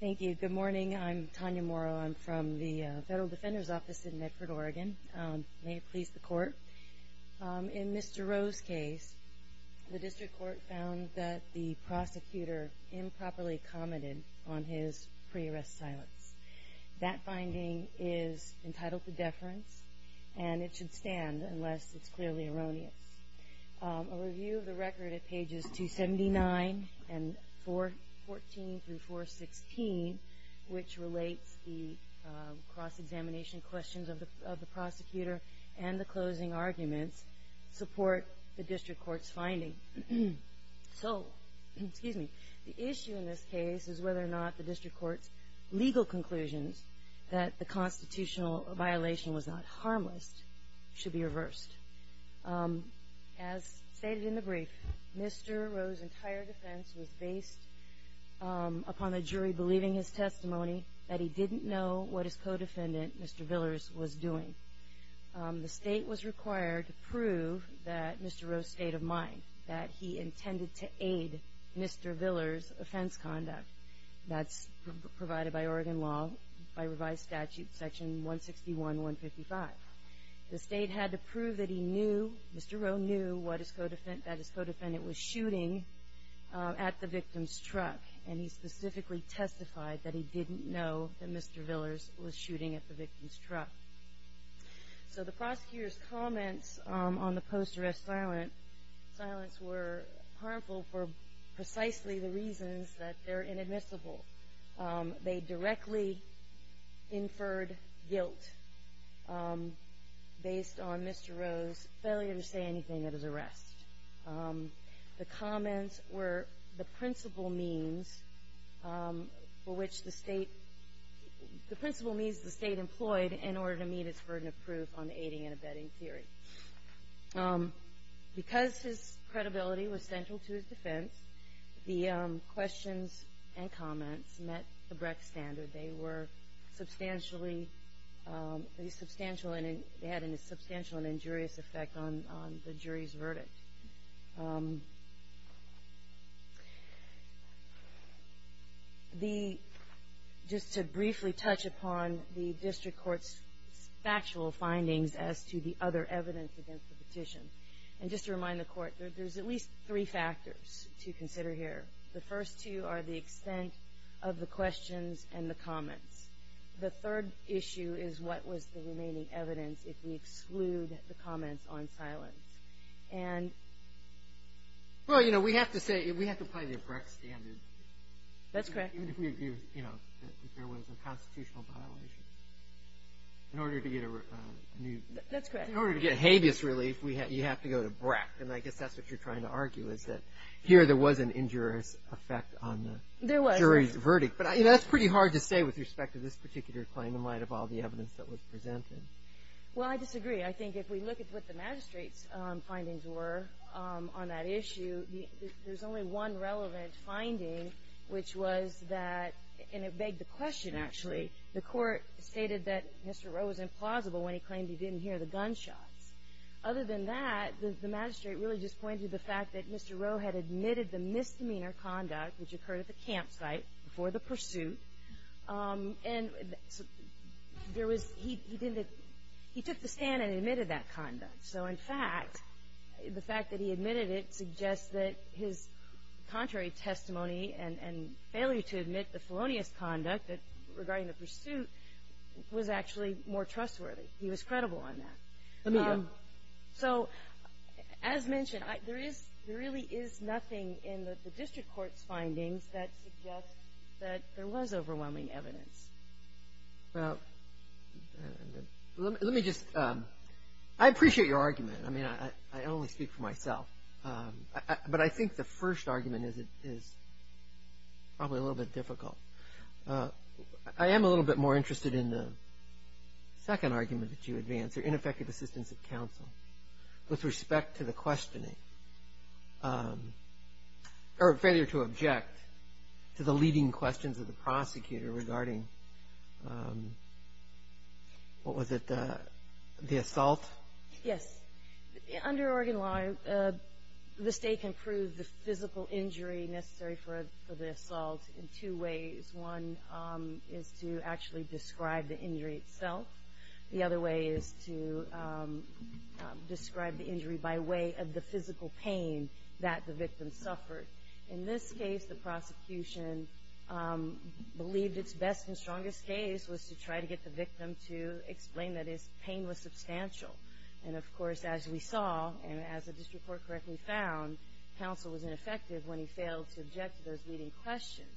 Thank you. Good morning. I'm Tanya Morrow. I'm from the Federal Defender's Office in Medford, Oregon. May it please the Court. In Mr. Roe's case, the District Court found that the prosecutor improperly commented on his pre-arrest silence. That finding is entitled to deference, and it should stand unless it's clearly erroneous. A review of the record at pages 279 and 414 through 416, which relates the cross-examination questions of the prosecutor and the closing arguments, support the District Court's finding. So the issue in this case is whether or not the District Court's legal conclusions that the constitutional violation was not harmless should be reversed. As stated in the brief, Mr. Roe's entire defense was based upon the jury believing his testimony that he didn't know what his co-defendant, Mr. Villars, was doing. The State was required to prove that Mr. Roe stayed of mind, that he intended to aid Mr. Villars' offense conduct. That's provided by Oregon law, by revised statute section 161.155. The State had to prove that he knew, Mr. Roe knew, that his co-defendant was shooting at the victim's truck, and he specifically testified that he didn't know that Mr. Villars was shooting at the victim's truck. So the prosecutor's comments on the post-arrest silence were harmful for precisely the reasons that they're inadmissible. They directly inferred guilt based on Mr. Roe's failure to say anything that is arrest. The comments were the principal means for which the State, the principal means the State employed in order to meet its burden of proof on aiding and abetting theory. Because his credibility was central to his defense, the questions and comments met the Brecht standard. They were substantially, they had a substantial and injurious effect on the jury's verdict. The, just to briefly touch upon the district court's factual findings as to the other evidence against the petition. And just to remind the court, there's at least three factors to consider here. The first two are the extent of the questions and the comments. The third issue is what was the remaining evidence if we exclude the comments on silence. And. Well, you know, we have to say, we have to play the Brecht standard. That's correct. Even if we agree, you know, that there was a constitutional violation. In order to get a new. That's correct. In order to get habeas relief, you have to go to Brecht. And I guess that's what you're trying to argue is that here there was an injurious effect on the jury's verdict. There was. But, you know, that's pretty hard to say with respect to this particular claim in light of all the evidence that was presented. Well, I disagree. I think if we look at what the magistrate's findings were on that issue, there's only one relevant finding, which was that. And it begged the question, actually. The court stated that Mr. Rowe was implausible when he claimed he didn't hear the gunshots. Other than that, the magistrate really just pointed to the fact that Mr. Rowe had admitted the misdemeanor conduct which occurred at the campsite before the pursuit. And there was. He didn't. He took the stand and admitted that conduct. So, in fact, the fact that he admitted it suggests that his contrary testimony and failure to admit the felonious conduct regarding the pursuit was actually more trustworthy. He was credible on that. So, as mentioned, there is. There really is nothing in the district court's findings that suggests that there was overwhelming evidence. Well, let me just. I appreciate your argument. I mean, I only speak for myself. But I think the first argument is probably a little bit difficult. I am a little bit more interested in the second argument that you advance, or ineffective assistance of counsel, with respect to the questioning, or failure to object to the leading questions of the prosecutor regarding, what was it, the assault? Yes. Under Oregon law, the state can prove the physical injury necessary for the assault in two ways. One is to actually describe the injury itself. The other way is to describe the injury by way of the physical pain that the victim suffered. In this case, the prosecution believed its best and strongest case was to try to get the victim to explain that his pain was substantial. And, of course, as we saw, and as the district court correctly found, counsel was ineffective when he failed to object to those leading questions.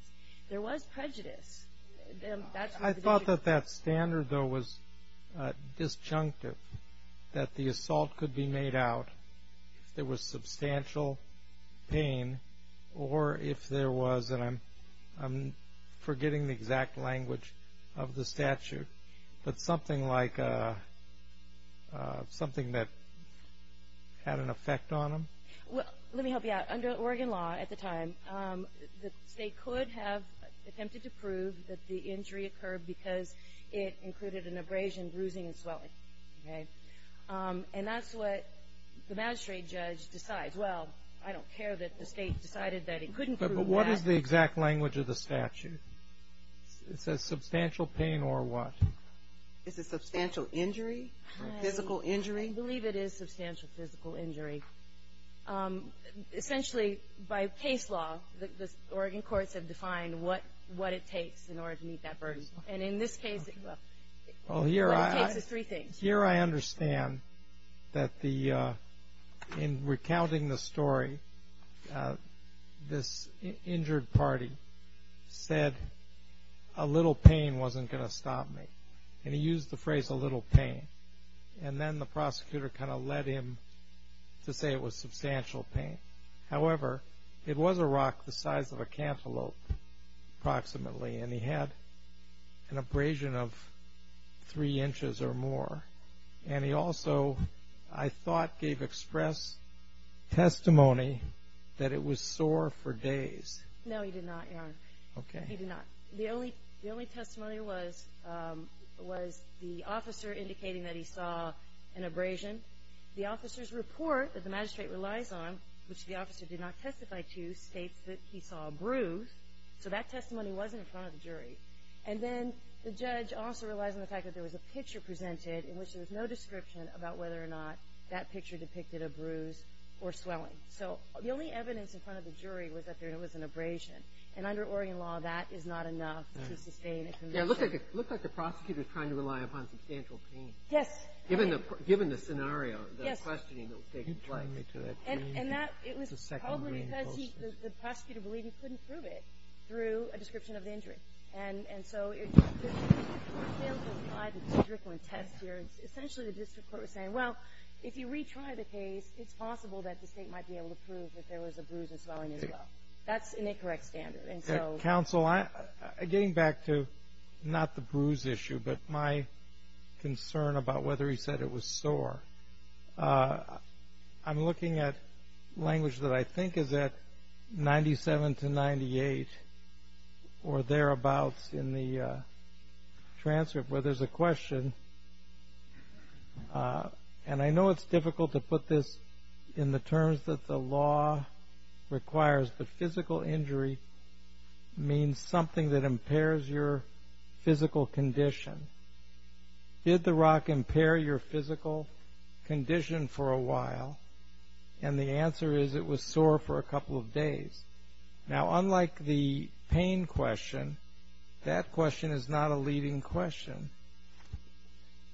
There was prejudice. I thought that that standard, though, was disjunctive, that the assault could be made out if there was substantial pain or if there was, and I'm forgetting the exact language of the statute, but something like, something that had an effect on him. Well, let me help you out. Under Oregon law at the time, the state could have attempted to prove that the injury occurred because it included an abrasion, bruising, and swelling. And that's what the magistrate judge decides. Well, I don't care that the state decided that it couldn't prove that. But what is the exact language of the statute? It says substantial pain or what? Is it substantial injury, physical injury? I believe it is substantial physical injury. Essentially, by case law, the Oregon courts have defined what it takes in order to meet that burden. And in this case, well, what it takes is three things. Here I understand that in recounting the story, this injured party said, a little pain wasn't going to stop me. And he used the phrase a little pain. And then the prosecutor kind of led him to say it was substantial pain. However, it was a rock the size of a cantaloupe approximately, and he had an abrasion of three inches or more. And he also, I thought, gave express testimony that it was sore for days. No, he did not, Your Honor. Okay. No, he did not. The only testimony was the officer indicating that he saw an abrasion. The officer's report that the magistrate relies on, which the officer did not testify to, states that he saw a bruise. So that testimony wasn't in front of the jury. And then the judge also relies on the fact that there was a picture presented in which there was no description about whether or not that picture depicted a bruise or swelling. So the only evidence in front of the jury was that there was an abrasion. And under Oregon law, that is not enough to sustain a conviction. It looked like the prosecutor was trying to rely upon substantial pain. Yes. Given the scenario, the questioning that was taking place. And that was probably because the prosecutor believed he couldn't prove it through a description of the injury. And so the district court failed to apply the test here. Essentially, the district court was saying, well, if you retry the case, it's possible that the state might be able to prove that there was a bruise and swelling as well. That's an incorrect standard. Counsel, getting back to not the bruise issue but my concern about whether he said it was sore, I'm looking at language that I think is at 97 to 98 or thereabouts in the transcript where there's a question. And I know it's difficult to put this in the terms that the law requires, but physical injury means something that impairs your physical condition. Did the rock impair your physical condition for a while? And the answer is it was sore for a couple of days. Now, unlike the pain question, that question is not a leading question.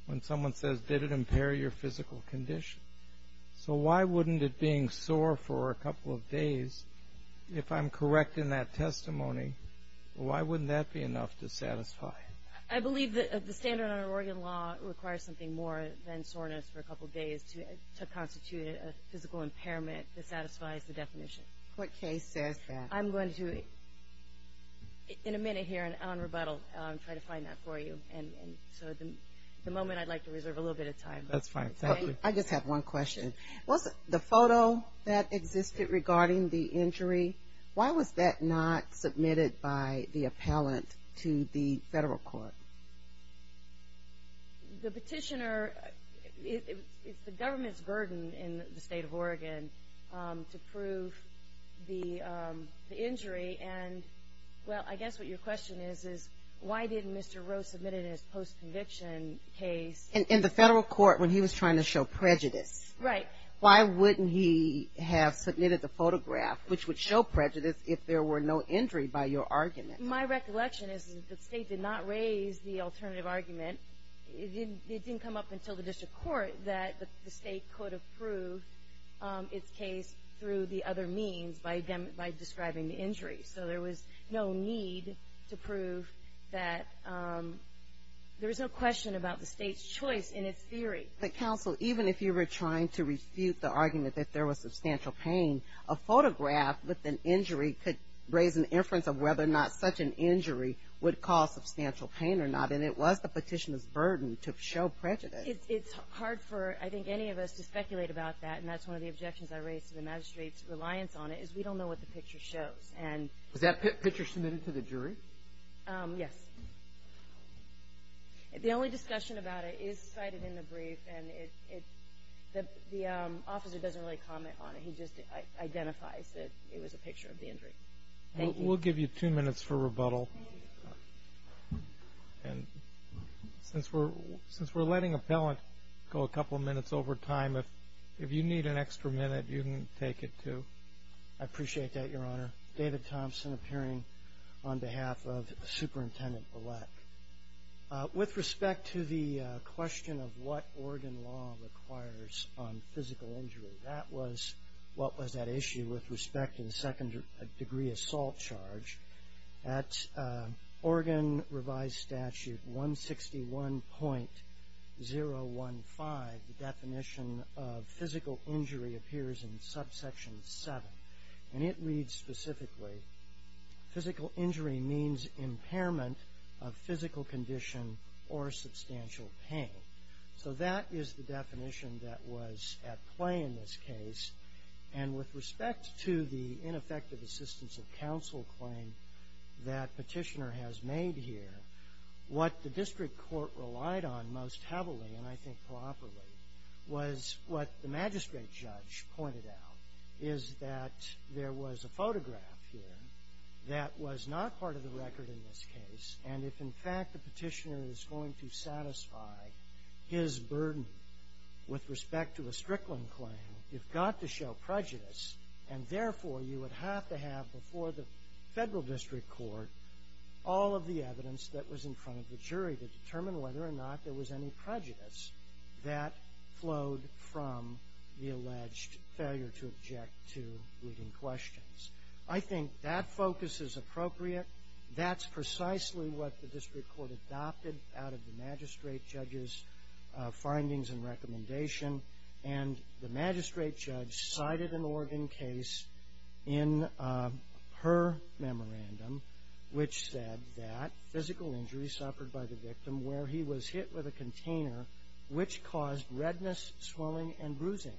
When someone says, did it impair your physical condition? So why wouldn't it being sore for a couple of days, if I'm correct in that testimony, why wouldn't that be enough to satisfy? I believe the standard on Oregon law requires something more than soreness for a couple of days to constitute a physical impairment that satisfies the definition. What case says that? I'm going to, in a minute here, try to find that for you. So at the moment I'd like to reserve a little bit of time. That's fine. I just have one question. The photo that existed regarding the injury, why was that not submitted by the appellant to the federal court? The petitioner, it's the government's burden in the state of Oregon to prove the injury. And, well, I guess what your question is, is why didn't Mr. Roe submit it in his post-conviction case? In the federal court when he was trying to show prejudice. Right. Why wouldn't he have submitted the photograph, which would show prejudice if there were no injury by your argument? My recollection is that the state did not raise the alternative argument. It didn't come up until the district court that the state could approve its case through the other means, by describing the injury. So there was no need to prove that there was no question about the state's choice in its theory. But, counsel, even if you were trying to refute the argument that there was substantial pain, a photograph with an injury could raise an inference of whether or not such an injury would cause substantial pain or not. And it was the petitioner's burden to show prejudice. It's hard for, I think, any of us to speculate about that. And that's one of the objections I raised to the magistrate's reliance on it, is we don't know what the picture shows. Was that picture submitted to the jury? Yes. The only discussion about it is cited in the brief, and the officer doesn't really comment on it. He just identifies that it was a picture of the injury. Thank you. We'll give you two minutes for rebuttal. Since we're letting appellant go a couple of minutes over time, if you need an extra minute, you can take it, too. I appreciate that, Your Honor. David Thompson, appearing on behalf of Superintendent Bullock. With respect to the question of what Oregon law requires on physical injury, that was what was at issue with respect to the second degree assault charge. At Oregon revised statute 161.015, the definition of physical injury appears in subsection 7. And it reads specifically, physical injury means impairment of physical condition or substantial pain. So that is the definition that was at play in this case. And with respect to the ineffective assistance of counsel claim that petitioner has made here, what the district court relied on most heavily, and I think properly, was what the magistrate judge pointed out, is that there was a photograph here that was not part of the record in this case. And if, in fact, the petitioner is going to satisfy his burden with respect to a Strickland claim, you've got to show prejudice. And therefore, you would have to have, before the federal district court, all of the evidence that was in front of the jury to determine whether or not there was any prejudice that flowed from the alleged failure to object to leading questions. I think that focus is appropriate. That's precisely what the district court adopted out of the magistrate judge's findings and recommendation. And the magistrate judge cited an Oregon case in her memorandum, which said that physical injury suffered by the victim where he was hit with a container, which caused redness, swelling, and bruising.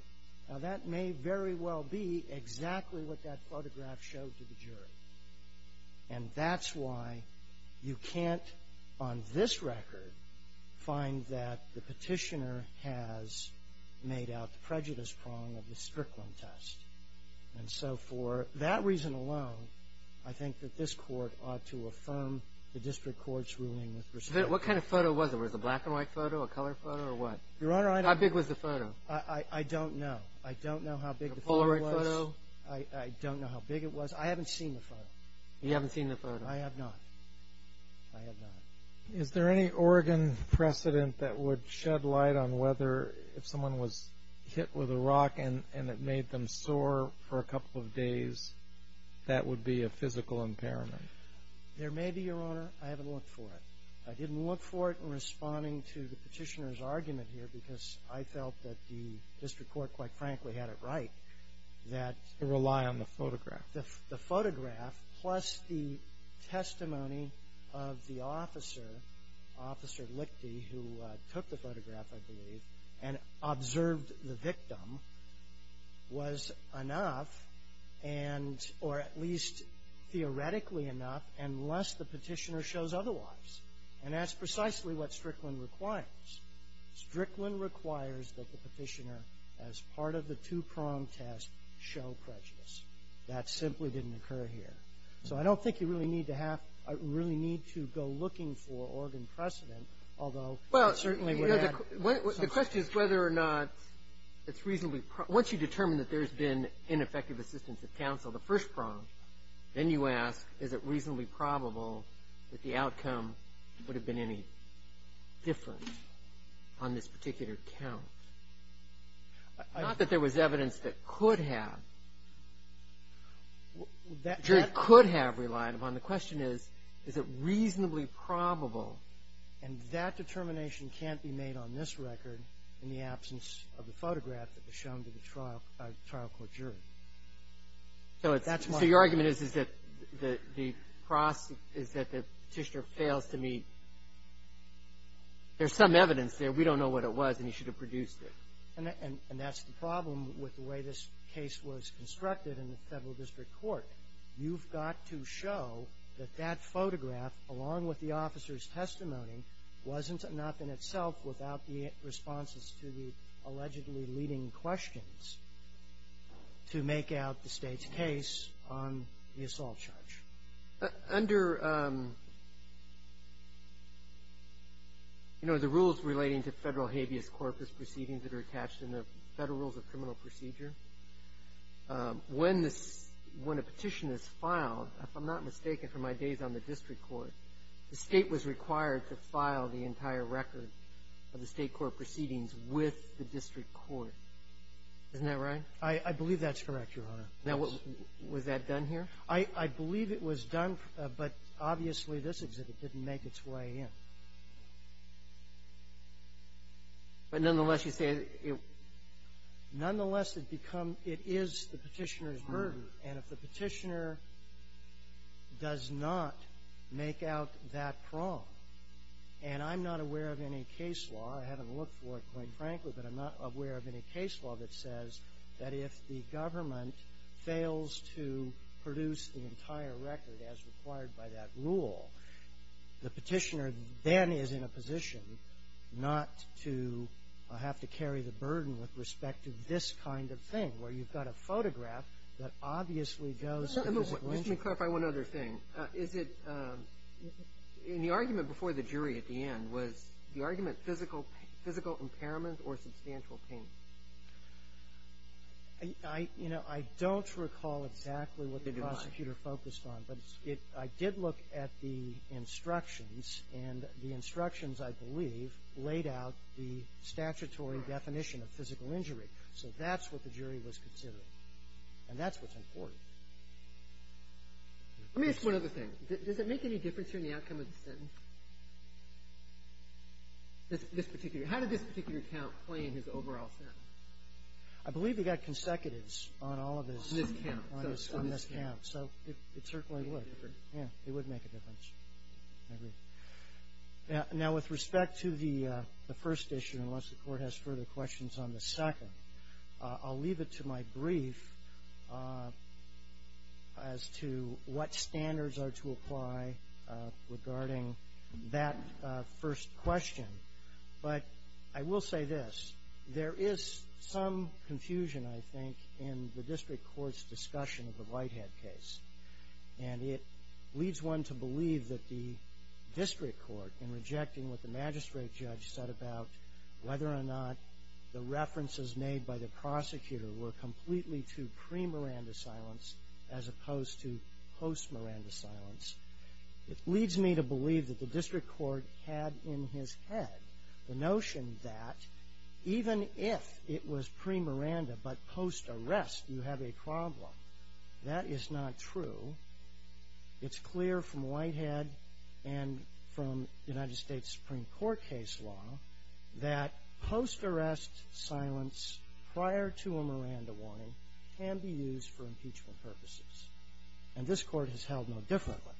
Now that may very well be exactly what that photograph showed to the jury. And that's why you can't, on this record, find that the petitioner has made out the prejudice prong of the Strickland test. And so for that reason alone, I think that this court ought to affirm the district court's ruling with respect to that. What kind of photo was it? Was it a black-and-white photo, a color photo, or what? Your Honor, I don't know. How big was the photo? I don't know. I don't know how big the photo was. A Polaroid photo? I don't know how big it was. I haven't seen the photo. You haven't seen the photo? I have not. I have not. Is there any Oregon precedent that would shed light on whether if someone was hit with a rock and it made them sore for a couple of days, that would be a physical impairment? There may be, Your Honor. I haven't looked for it. I didn't look for it in responding to the petitioner's argument here, because I felt that the district court, quite frankly, had it right that To rely on the photograph. the photograph, plus the testimony of the officer, Officer Lichty, who took the photograph, I believe, and observed the victim was enough, or at least theoretically enough, unless the petitioner shows otherwise. And that's precisely what Strickland requires. Strickland requires that the petitioner, as part of the two-prong test, show prejudice. That simply didn't occur here. So I don't think you really need to go looking for Oregon precedent, although it certainly would add something. The question is whether or not it's reasonably probable. Once you determine that there's been ineffective assistance at council, the first prong, then you ask is it reasonably probable that the outcome would have been any different on this particular count? Not that there was evidence that could have. The jury could have relied upon. The question is, is it reasonably probable. And that determination can't be made on this record in the absence of the photograph that was shown to the trial court jury. So it's the argument is that the process is that the petitioner fails to meet. There's some evidence there. We don't know what it was. And he should have produced it. And that's the problem with the way this case was constructed in the federal district court. You've got to show that that photograph, along with the officer's testimony, wasn't enough in itself without the responses to the allegedly leading questions to make out the state's case on the assault charge. Under, you know, the rules relating to federal habeas corpus proceedings that are attached in the Federal Rules of Criminal Procedure, when a petition is filed, if I'm not mistaken from my days on the district court, the state was required to file the entire record of the state court proceedings with the district court. Isn't that right? I believe that's correct, Your Honor. Now, was that done here? I believe it was done, but obviously this exhibit didn't make its way in. But nonetheless, you say it was? Nonetheless, it becomes the petitioner's burden. And if the petitioner does not make out that prong, and I'm not aware of any case law I haven't looked for it, quite frankly, but I'm not aware of any case law that says that if the government fails to produce the entire record as required by that rule, the petitioner then is in a position not to have to carry the burden with respect to this kind of thing, where you've got a photograph that obviously goes to the disclosure. Let me clarify one other thing. Is it in the argument before the jury at the end, was the argument physical impairment or substantial pain? You know, I don't recall exactly what the prosecutor focused on, but I did look at the instructions, and the instructions, I believe, laid out the statutory definition of physical injury. So that's what the jury was considering, and that's what's important. Let me ask one other thing. Does it make any difference here in the outcome of the sentence? This particular one. How did this particular count play in his overall sentence? I believe he got consecutives on all of his ‑‑ On this count. On this count. So it certainly would. It would make a difference. Yeah. It would make a difference. I agree. Now, with respect to the first issue, unless the Court has further questions on the second, I'll leave it to my brief as to what standards are to apply regarding that first question. But I will say this. There is some confusion, I think, in the district court's discussion of the Whitehead case. And it leads one to believe that the district court, in rejecting what the magistrate judge said about whether or not the references made by the prosecutor were completely to pre-Miranda silence as opposed to post-Miranda silence, it leads me to believe that the district court had in his head the notion that even if it was pre-Miranda but post-arrest you have a problem. That is not true. It's clear from Whitehead and from United States Supreme Court case law that post-arrest silence prior to a Miranda warning can be used for impeachment purposes. And this Court has held no differently.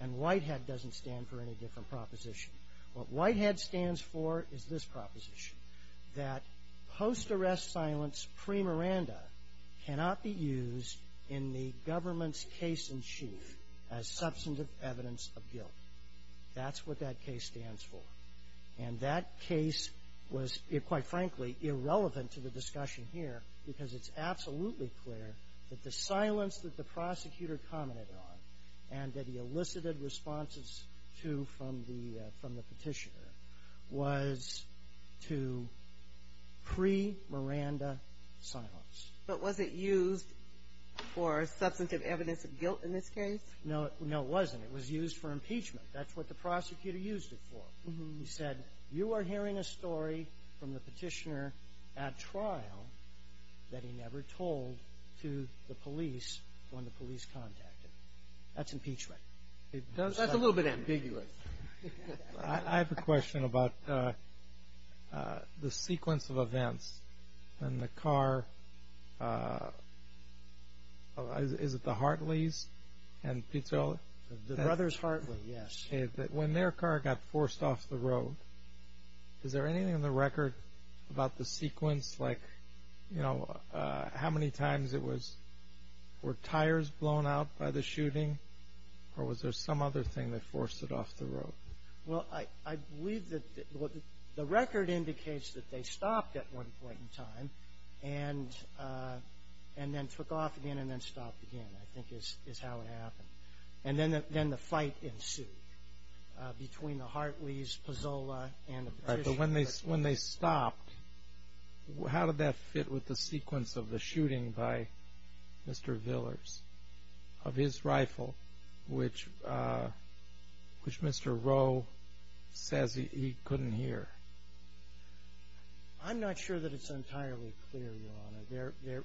And Whitehead doesn't stand for any different proposition. What Whitehead stands for is this proposition, that post-arrest silence pre-Miranda cannot be used in the government's case in chief as substantive evidence of guilt. That's what that case stands for. And that case was, quite frankly, irrelevant to the discussion here because it's absolutely clear that the silence that the prosecutor commented on and that he elicited responses to from the petitioner was to pre-Miranda silence. But was it used for substantive evidence of guilt in this case? No, it wasn't. It was used for impeachment. That's what the prosecutor used it for. He said, you are hearing a story from the petitioner at trial that he never told to the police when the police contacted. That's impeachment. That's a little bit ambiguous. I have a question about the sequence of events when the car... Is it the Hartleys? The Brothers Hartley, yes. When their car got forced off the road, is there anything in the record about the sequence? How many times were tires blown out by the shooting? Or was there some other thing that forced it off the road? The record indicates that they stopped at one point in time and then took off again and then stopped again. And then the fight ensued between the Hartleys, Pozzola, and the petitioner. But when they stopped, how did that fit with the sequence of the shooting by Mr. Villars, of his rifle, which Mr. Rowe says he couldn't hear? I'm not sure that it's entirely clear, Your Honor.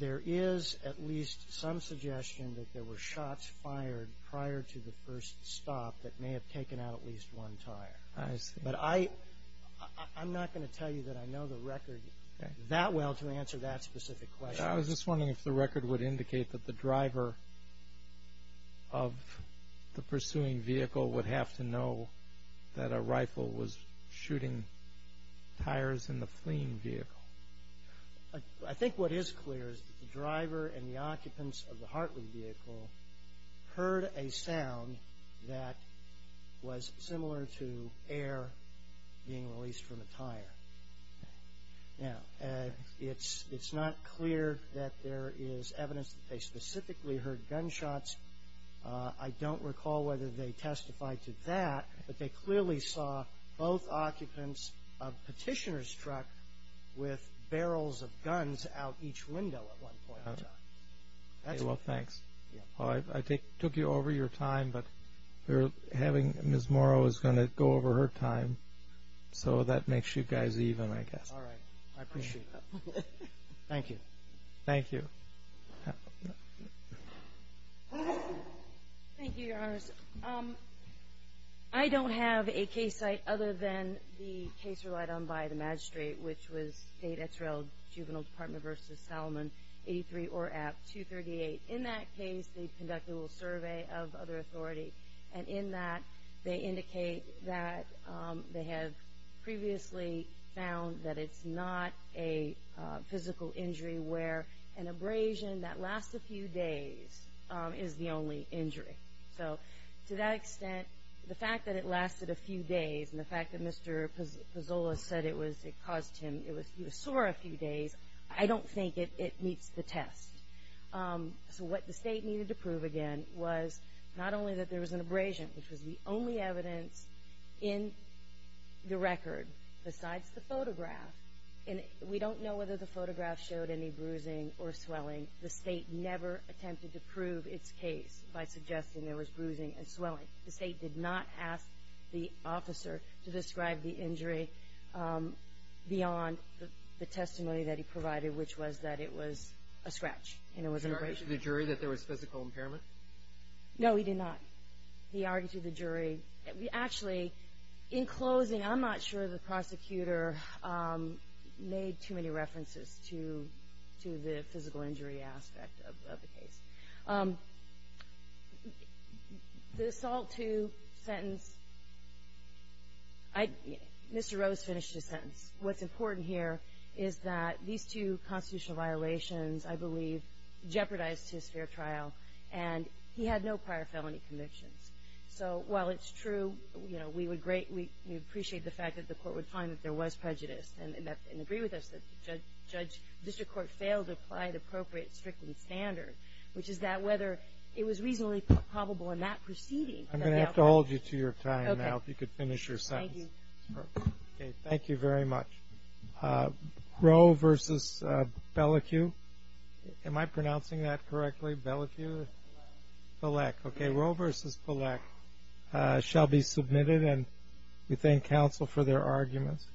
There is at least some suggestion that there were shots fired prior to the first stop that may have taken out at least one tire. But I'm not going to tell you that I know the record that well to answer that specific question. I was just wondering if the record would indicate that the driver of the pursuing vehicle would have to know that a rifle was shooting tires in the fleeing vehicle. I think what is clear is that the driver and the occupants of the Hartley vehicle heard a sound that was similar to air being released from a tire. Now, it's not clear that there is evidence that they specifically heard gunshots. I don't recall whether they testified to that, but they clearly saw both occupants of the petitioner's truck with barrels of guns out each window at one point in time. Well, thanks. I took you over your time, but having Ms. Morrow is going to go over her time, so that makes you guys even, I guess. All right. I appreciate that. Thank you. Thank you, Your Honors. I don't have a case site other than the case relied on by the magistrate, which was State X-Rail Juvenile Department v. Salomon, 83 ORAP 238. In that case, they conducted a survey of other authority, and in that, they indicate that they have previously found that it's not a physical injury where an abrasion that lasts a few days is the only cause of injury. So to that extent, the fact that it lasted a few days, and the fact that Mr. Pozzola said it caused him, he was sore a few days, I don't think it meets the test. So what the State needed to prove again was not only that there was an abrasion, which was the only evidence in the record besides the photograph, and we don't know whether the photograph showed any bruising or swelling. The State did not ask the officer to describe the injury beyond the testimony that he provided, which was that it was a scratch, and it was an abrasion. He argued to the jury that there was physical impairment? No, he did not. He argued to the jury. Actually, in closing, I'm not sure the prosecutor made too many references to the physical injury aspect of the case. The assault to sentence, Mr. Rose finished his sentence. What's important here is that these two constitutional violations, I believe, jeopardized his fair trial, and he had no prior felony convictions. So while it's true, we appreciate the fact that the court would find that there was prejudice, and agree with us that the district court failed to apply the appropriate stricken standard, which is that whether it was reasonably probable in that proceeding. I'm going to have to hold you to your time now, if you could finish your sentence. Thank you very much. Roe v. Pelec shall be submitted, and we thank counsel for their arguments.